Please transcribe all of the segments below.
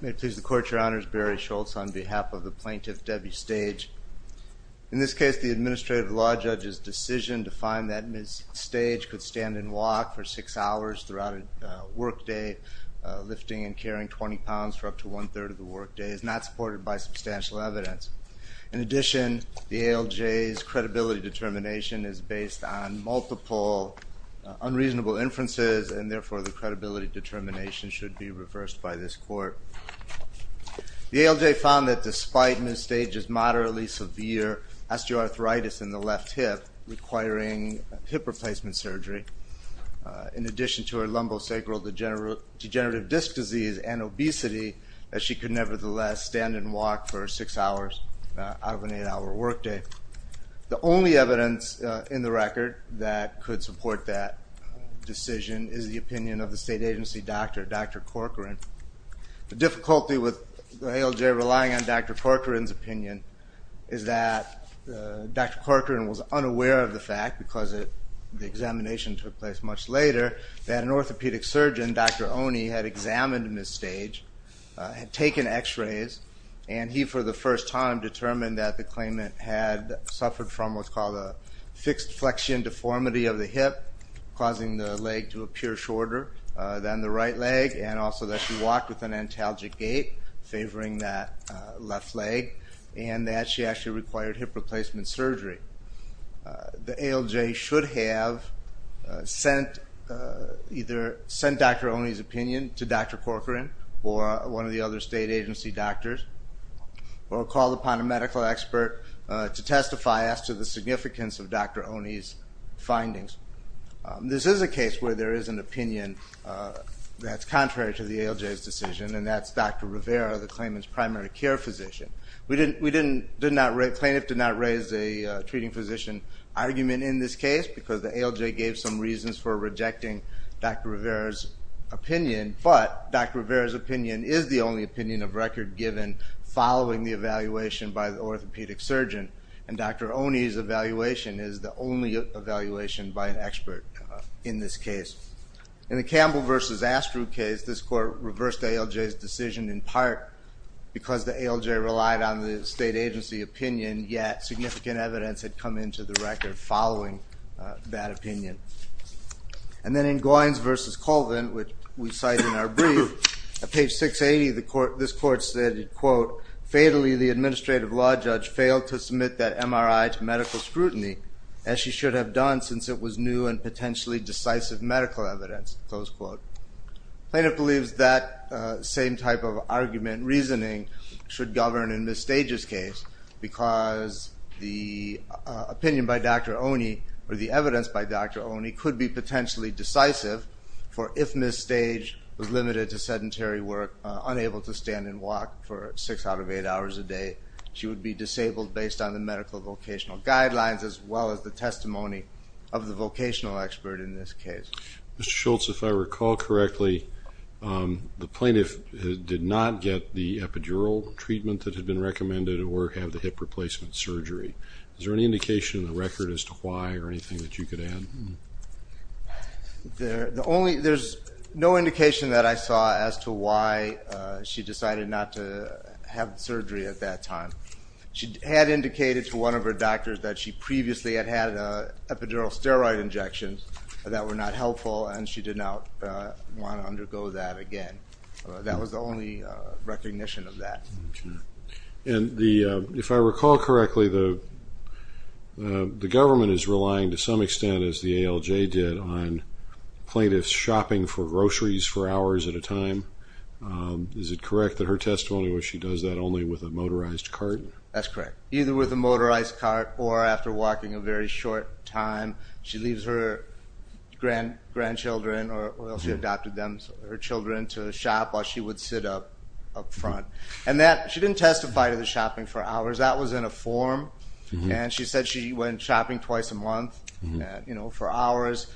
May it please the Court, Your Honors. Barry Schultz on behalf of the Plaintiff Debbie Stage. In this case, the Administrative Law Judge's decision to find that Ms. Stage could stand and walk for six hours throughout a workday, lifting and carrying 20 pounds for up to one-third of the workday, is not supported by substantial evidence. In addition, the ALJ's credibility determination is based on multiple unreasonable inferences and therefore the credibility determination should be reversed by this Court. The ALJ found that despite Ms. Stage's moderately severe osteoarthritis in the left hip, requiring hip replacement surgery, in addition to her lumbosacral degenerative disc disease and obesity, that she could nevertheless stand and walk for six hours out of an eight-hour workday. The only evidence in the record that could support that decision is the opinion of the state agency doctor, Dr. Corcoran. The difficulty with the ALJ relying on Dr. Corcoran's opinion is that Dr. Corcoran was unaware of the fact, because the examination took place much later, that an orthopedic surgeon, Dr. Oney, had examined Ms. Stage, had taken x-rays, and he, for the first time, determined that the claimant had suffered from what's leg to appear shorter than the right leg, and also that she walked with an antalgic gait, favoring that left leg, and that she actually required hip replacement surgery. The ALJ should have either sent Dr. Oney's opinion to Dr. Corcoran or one of the other state agency doctors, or called upon a medical expert to testify as to the significance of Dr. Oney's findings. This is a case where there is an opinion that's contrary to the ALJ's decision, and that's Dr. Rivera, the claimant's primary care physician. We didn't, we didn't, did not, the plaintiff did not raise a treating physician argument in this case, because the ALJ gave some reasons for rejecting Dr. Rivera's opinion, but Dr. Rivera's opinion is the only opinion of record given following the evaluation by the orthopedic surgeon, and Dr. Oney's evaluation is the only evaluation by an orthopedic surgeon in this case. In the Campbell versus Astru case, this court reversed ALJ's decision in part because the ALJ relied on the state agency opinion, yet significant evidence had come into the record following that opinion. And then in Goins versus Colvin, which we cite in our brief, at page 680, the court, this court stated, quote, fatally the administrative law judge failed to submit that MRI to medical scrutiny, as she should have done since it was new and potentially decisive medical evidence, close quote. Plaintiff believes that same type of argument reasoning should govern in Ms. Stage's case, because the opinion by Dr. Oney, or the evidence by Dr. Oney, could be potentially decisive, for if Ms. Stage was limited to sedentary work, unable to stand and walk for six out of eight hours a day, she would be disabled based on the medical vocational guidelines, as well as the testimony of the vocational expert in this case. Mr. Schultz, if I recall correctly, the plaintiff did not get the epidural treatment that had been recommended, or have the hip replacement surgery. Is there any indication in the record as to why, or anything that you could add? There's no indication that I saw as to why she decided not to have surgery at that time. She had indicated to one of her doctors that she had other conditions that were not helpful, and she did not want to undergo that again. That was the only recognition of that. And if I recall correctly, the government is relying to some extent, as the ALJ did, on plaintiffs shopping for groceries for hours at a time. Is it correct that her testimony was she does that only with a motorized cart? That's correct. Either with a motorized cart, or she leaves her grandchildren, or she adopted them, her children to shop while she would sit up up front. And that, she didn't testify to the shopping for hours. That was in a form, and she said she went shopping twice a month, you know, for hours.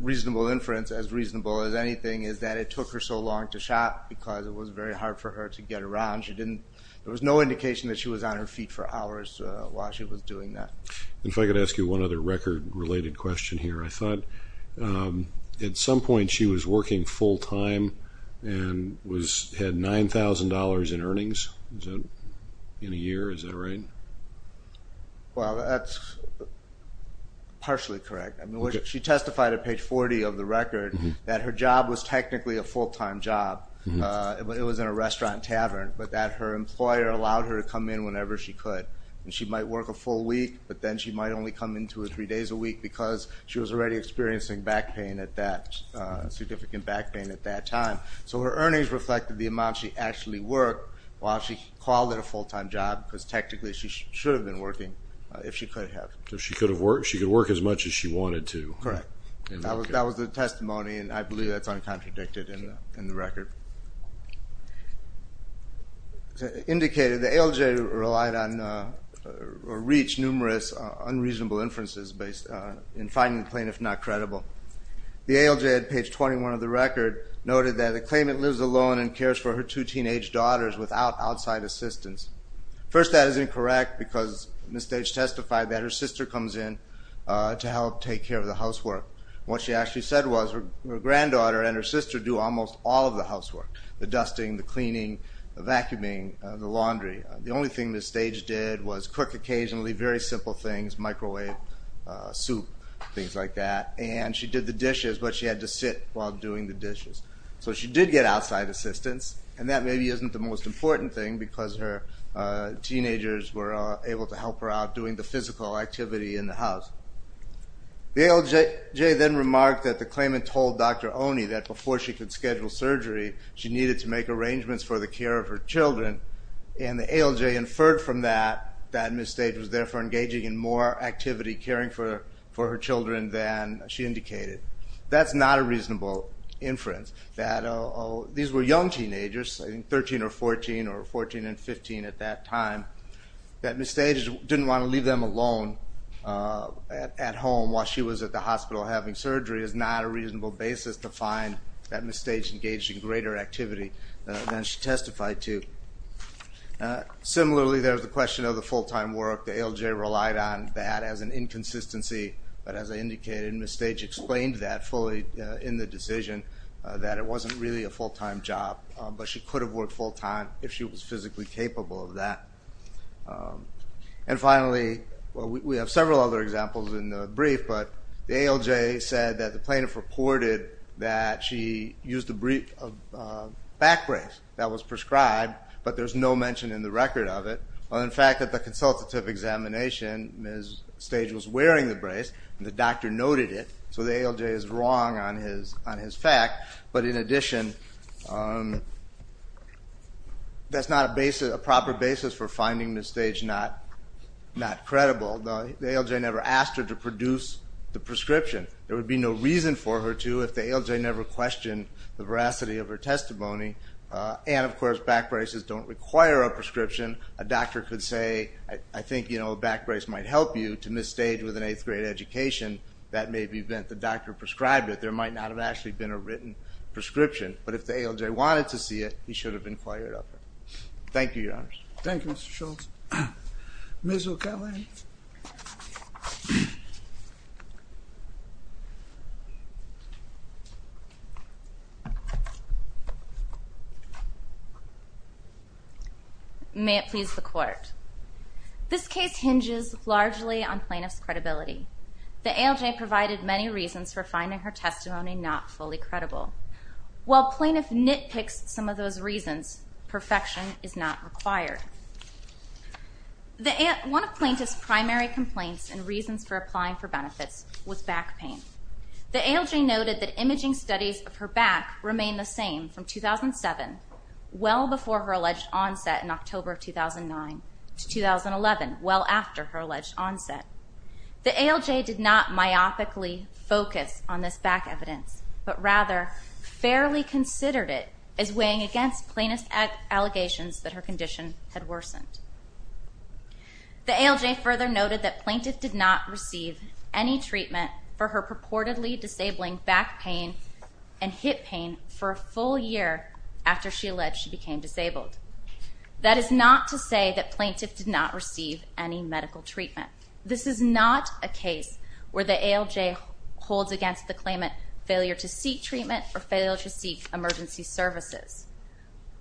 Reasonable inference, as reasonable as anything, is that it took her so long to shop because it was very hard for her to get around. She didn't, there was no indication that she was on her feet for hours while she was doing that. And if I could ask you one other record-related question here. I thought at some point she was working full-time and had $9,000 in earnings in a year. Is that right? Well, that's partially correct. I mean, she testified at page 40 of the record that her job was technically a full-time job. It was in a restaurant tavern, but that her employer allowed her to come in whenever she could. And she might work a come in two or three days a week because she was already experiencing back pain at that, significant back pain at that time. So her earnings reflected the amount she actually worked while she called it a full-time job because technically she should have been working, if she could have. So she could have worked, she could work as much as she wanted to. Correct. That was the testimony, and I believe that's uncontradicted in the record. Indicated the ALJ relied on or reached numerous unreasonable inferences based in finding the plaintiff not credible. The ALJ at page 21 of the record noted that the claimant lives alone and cares for her two teenage daughters without outside assistance. First, that is incorrect because Ms. Stage testified that her sister comes in to help take care of the housework. What she actually said was her granddaughter and her sister do almost all of the housework. The dusting, the only thing Ms. Stage did was cook occasionally very simple things, microwave, soup, things like that. And she did the dishes, but she had to sit while doing the dishes. So she did get outside assistance, and that maybe isn't the most important thing because her teenagers were able to help her out doing the physical activity in the house. The ALJ then remarked that the claimant told Dr. Oney that before she could schedule surgery, she needed to make arrangements for the care of her children. And the ALJ inferred from that that Ms. Stage was there for engaging in more activity caring for her children than she indicated. That's not a reasonable inference that these were young teenagers, I think 13 or 14 or 14 and 15 at that time, that Ms. Stage didn't wanna leave them alone at home while she was at the hospital having surgery is not a thing that she testified to. Similarly, there's the question of the full time work. The ALJ relied on that as an inconsistency, but as I indicated, Ms. Stage explained that fully in the decision that it wasn't really a full time job, but she could have worked full time if she was physically capable of that. And finally, we have several other examples in the brief, but the ALJ said that the plaintiff reported that she used a back brace that was prescribed, but there's no mention in the record of it. In fact, at the consultative examination, Ms. Stage was wearing the brace and the doctor noted it, so the ALJ is wrong on his fact. But in addition, that's not a proper basis for finding Ms. Stage not credible. The ALJ never asked her to produce the prescription. There would be no reason for her to, if the ALJ never questioned the veracity of her testimony. And of course, back braces don't require a prescription. A doctor could say, I think a back brace might help you, to Ms. Stage with an eighth grade education. That may be the event the doctor prescribed it. There might not have actually been a written prescription, but if the ALJ wanted to see it, he should have inquired of her. Thank you, Your Honors. Thank you, Mr. Schultz. Ms. O'Kelley. May it please the Court. This case hinges largely on plaintiff's credibility. The ALJ provided many reasons for finding her testimony not fully credible. While plaintiff nitpicks some of those reasons, perfection is not required. One of plaintiff's primary complaints and reasons for applying for benefits was back pain. The ALJ noted that imaging studies of her back remained the same from 2007, well before her alleged onset in October of 2009, to 2011, well after her alleged onset. The ALJ did not myopically focus on this back evidence, but rather fairly considered it as weighing against plaintiff's allegations that her condition had worsened. The ALJ further noted that for her purportedly disabling back pain and hip pain for a full year after she alleged she became disabled. That is not to say that plaintiff did not receive any medical treatment. This is not a case where the ALJ holds against the claimant failure to seek treatment or failure to seek emergency services.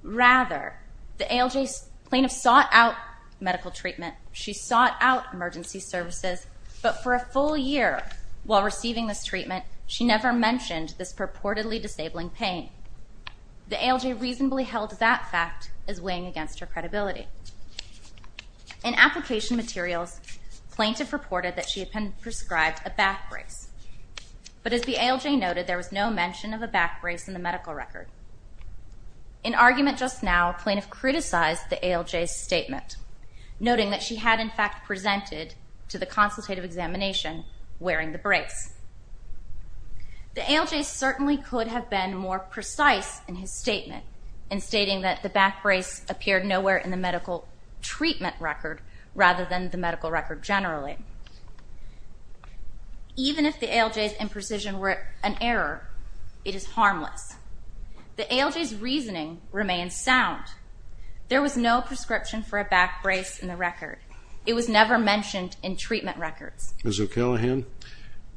Rather, the ALJ plaintiff sought out medical treatment. She sought out emergency services, but for a full year while receiving this treatment, she never mentioned this purportedly disabling pain. The ALJ reasonably held that fact as weighing against her credibility. In application materials, plaintiff reported that she had prescribed a back brace. But as the ALJ noted, there was no mention of a back brace in the medical record. In argument just now, plaintiff criticized the ALJ's statement, noting that she had, in fact, presented to the consultative examination wearing the brace. The ALJ certainly could have been more precise in his statement in stating that the back brace appeared nowhere in the medical treatment record rather than the medical record generally. Even if the ALJ's imprecision were an error, it is harmless. The ALJ's reasoning remains sound. There was no prescription for a back brace in the record. It was never mentioned in treatment records. Ms. O'Callaghan,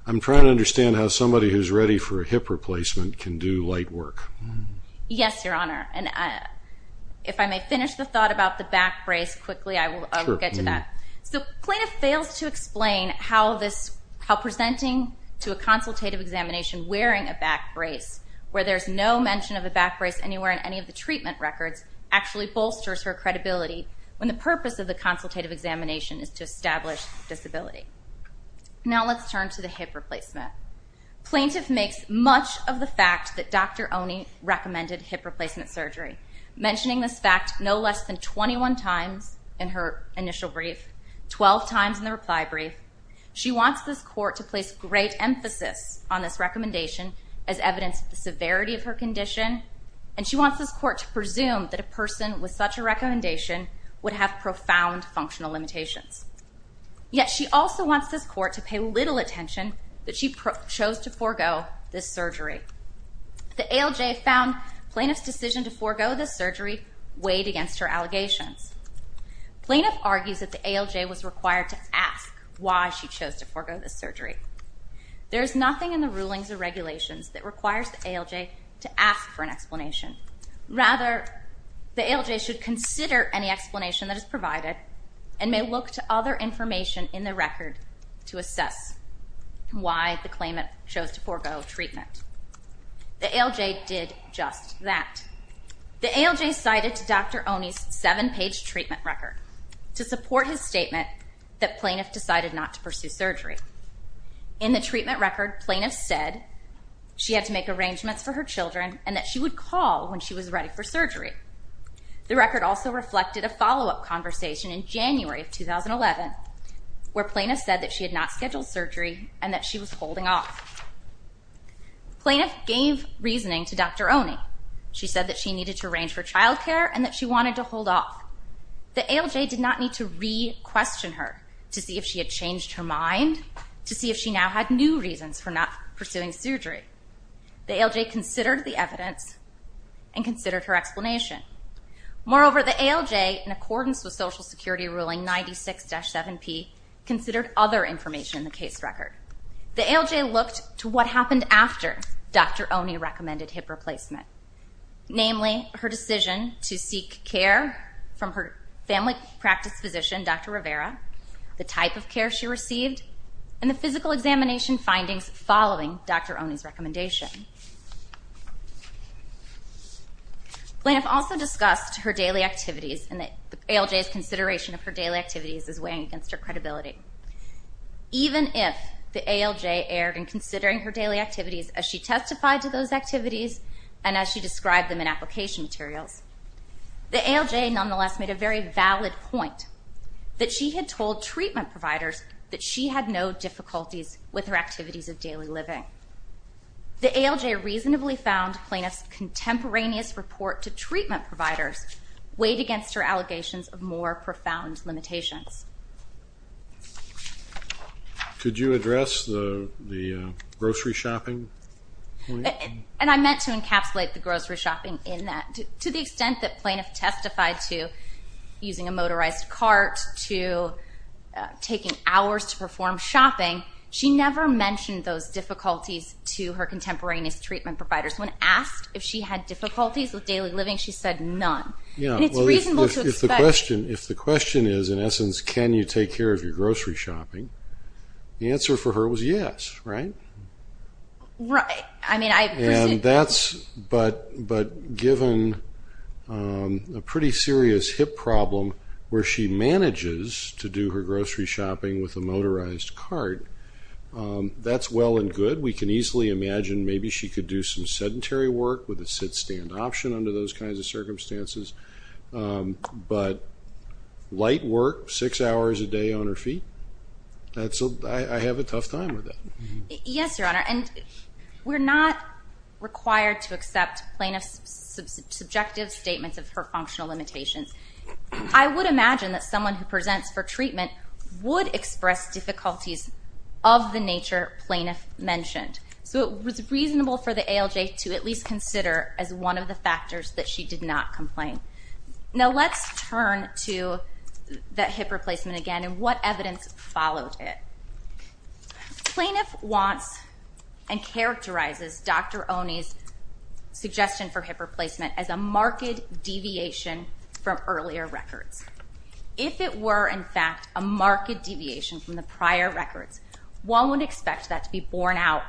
I'm trying to understand how somebody who's ready for a hip replacement can do light work. Yes, Your Honor. And if I may finish the thought about the back brace quickly, I will get to that. So plaintiff fails to explain how presenting to a consultative examination wearing a back brace where there's no mention of a back brace anywhere in any of the treatment records actually bolsters her credibility when the purpose of the consultative examination is to establish disability. Now let's turn to the hip replacement. Plaintiff makes much of the fact that Dr. Oney recommended hip replacement surgery, mentioning this fact no less than 21 times in her initial brief, 12 times in the reply brief. She wants this court to place great emphasis on this recommendation as evidence of the severity of her condition, and she wants this court to presume that a recommendation would have profound functional limitations. Yet she also wants this court to pay little attention that she chose to forego this surgery. The ALJ found plaintiff's decision to forego the surgery weighed against her allegations. Plaintiff argues that the ALJ was required to ask why she chose to forego the surgery. There's nothing in the rulings or regulations that requires the ALJ to ask for an explanation. Rather, the ALJ should consider any explanation that is provided and may look to other information in the record to assess why the claimant chose to forego treatment. The ALJ did just that. The ALJ cited Dr. Oney's seven-page treatment record to support his statement that plaintiff decided not to pursue surgery. In the treatment record, plaintiff said she had to make arrangements for her children and that she would call when she was ready for surgery. The record also reflected a follow-up conversation in January of 2011, where plaintiff said that she had not scheduled surgery and that she was holding off. Plaintiff gave reasoning to Dr. Oney. She said that she needed to arrange for child care and that she wanted to hold off. The ALJ did not need to re-question her to see if she had new reasons for not pursuing surgery. The ALJ considered the evidence and considered her explanation. Moreover, the ALJ, in accordance with Social Security Ruling 96-7P, considered other information in the case record. The ALJ looked to what happened after Dr. Oney recommended hip replacement. Namely, her decision to seek care from her family practice physician, Dr. Rivera, the type of care she received, and the physical examination findings following Dr. Oney's recommendation. Plaintiff also discussed her daily activities and that the ALJ's consideration of her daily activities is weighing against her credibility. Even if the ALJ erred in considering her daily activities as she testified to those activities and as she described them in application materials, the ALJ nonetheless made a very valid point that she had told treatment providers that she had no difficulties with her activities of daily living. The ALJ reasonably found plaintiff's contemporaneous report to treatment providers weighed against her allegations of more profound limitations. Could you address the grocery shopping? And I meant to encapsulate the grocery shopping in that. To the extent that plaintiff testified to using a motorized cart, to taking hours to perform shopping, she never mentioned those difficulties to her contemporaneous treatment providers. When asked if she had difficulties with daily living, she said none. And it's reasonable to expect... If the question is, in essence, can you take care of your grocery shopping, the Right. I mean, I... And that's... But given a pretty serious hip problem where she manages to do her grocery shopping with a motorized cart, that's well and good. We can easily imagine maybe she could do some sedentary work with a sit-stand option under those kinds of circumstances. But light work, six hours a week, that's... I have a tough time with that. Yes, Your Honor. And we're not required to accept plaintiff's subjective statements of her functional limitations. I would imagine that someone who presents for treatment would express difficulties of the nature plaintiff mentioned. So it was reasonable for the ALJ to at least consider as one of the factors that she did not complain. Now let's turn to the hip replacement again and what evidence followed it. Plaintiff wants and characterizes Dr. Oney's suggestion for hip replacement as a marked deviation from earlier records. If it were, in fact, a marked deviation from the prior records, one would expect that to be borne out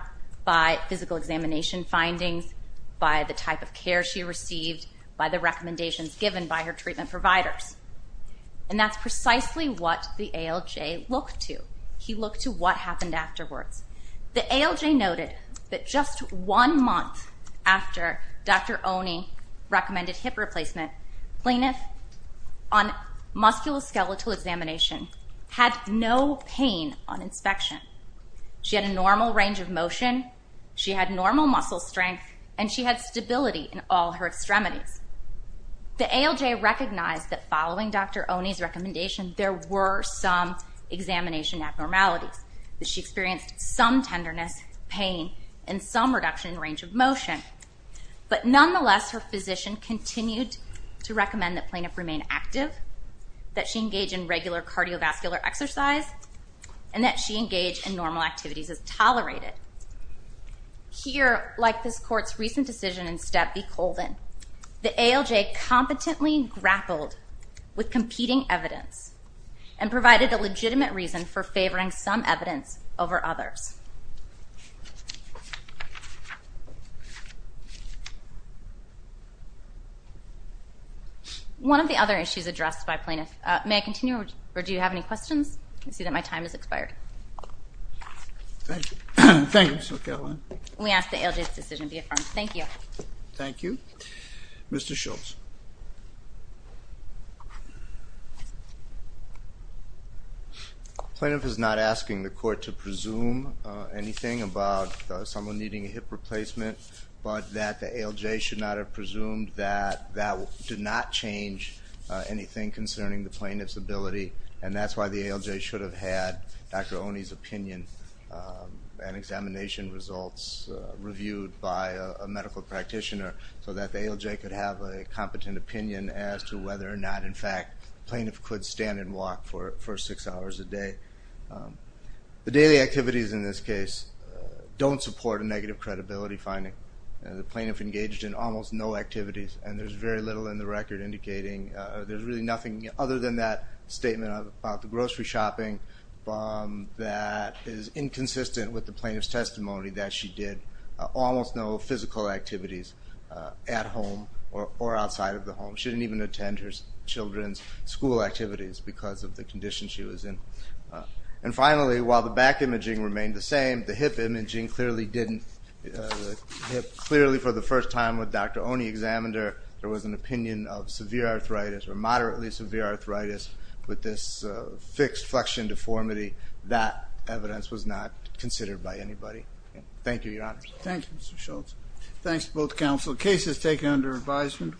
by physical examination findings, by the type of care she received, by the recommendations given by her treatment providers. And that's precisely what the ALJ looked to. He looked to what happened afterwards. The ALJ noted that just one month after Dr. Oney recommended hip replacement, plaintiff on musculoskeletal examination had no pain on inspection. She had a normal range of motion, she had normal extremities. The ALJ recognized that following Dr. Oney's recommendation, there were some examination abnormalities. She experienced some tenderness, pain, and some reduction in range of motion. But nonetheless, her physician continued to recommend that plaintiff remain active, that she engage in regular cardiovascular exercise, and that she engage in normal activities as tolerated. Here, like this the ALJ competently grappled with competing evidence and provided a legitimate reason for favoring some evidence over others. One of the other issues addressed by plaintiff, may I continue, or do you have any questions? I see that my time has expired. We ask that ALJ's decision be Mr. Schultz. Plaintiff is not asking the court to presume anything about someone needing a hip replacement, but that the ALJ should not have presumed that that did not change anything concerning the plaintiff's ability, and that's why the ALJ should have had Dr. Oney's opinion and examination results reviewed by a ALJ could have a competent opinion as to whether or not, in fact, plaintiff could stand and walk for six hours a day. The daily activities in this case don't support a negative credibility finding. The plaintiff engaged in almost no activities, and there's very little in the record indicating, there's really nothing other than that statement about the grocery shopping that is inconsistent with the plaintiff's testimony that she did almost no physical activities at home or outside of the home. She didn't even attend her children's school activities because of the condition she was in. And finally, while the back imaging remained the same, the hip imaging clearly didn't. Clearly for the first time with Dr. Oney examined her, there was an opinion of severe arthritis or moderately severe arthritis with this fixed flexion deformity. That evidence was not considered by anybody. Thank you, Your Honor. Thanks both counsel. Case is taken under advisement.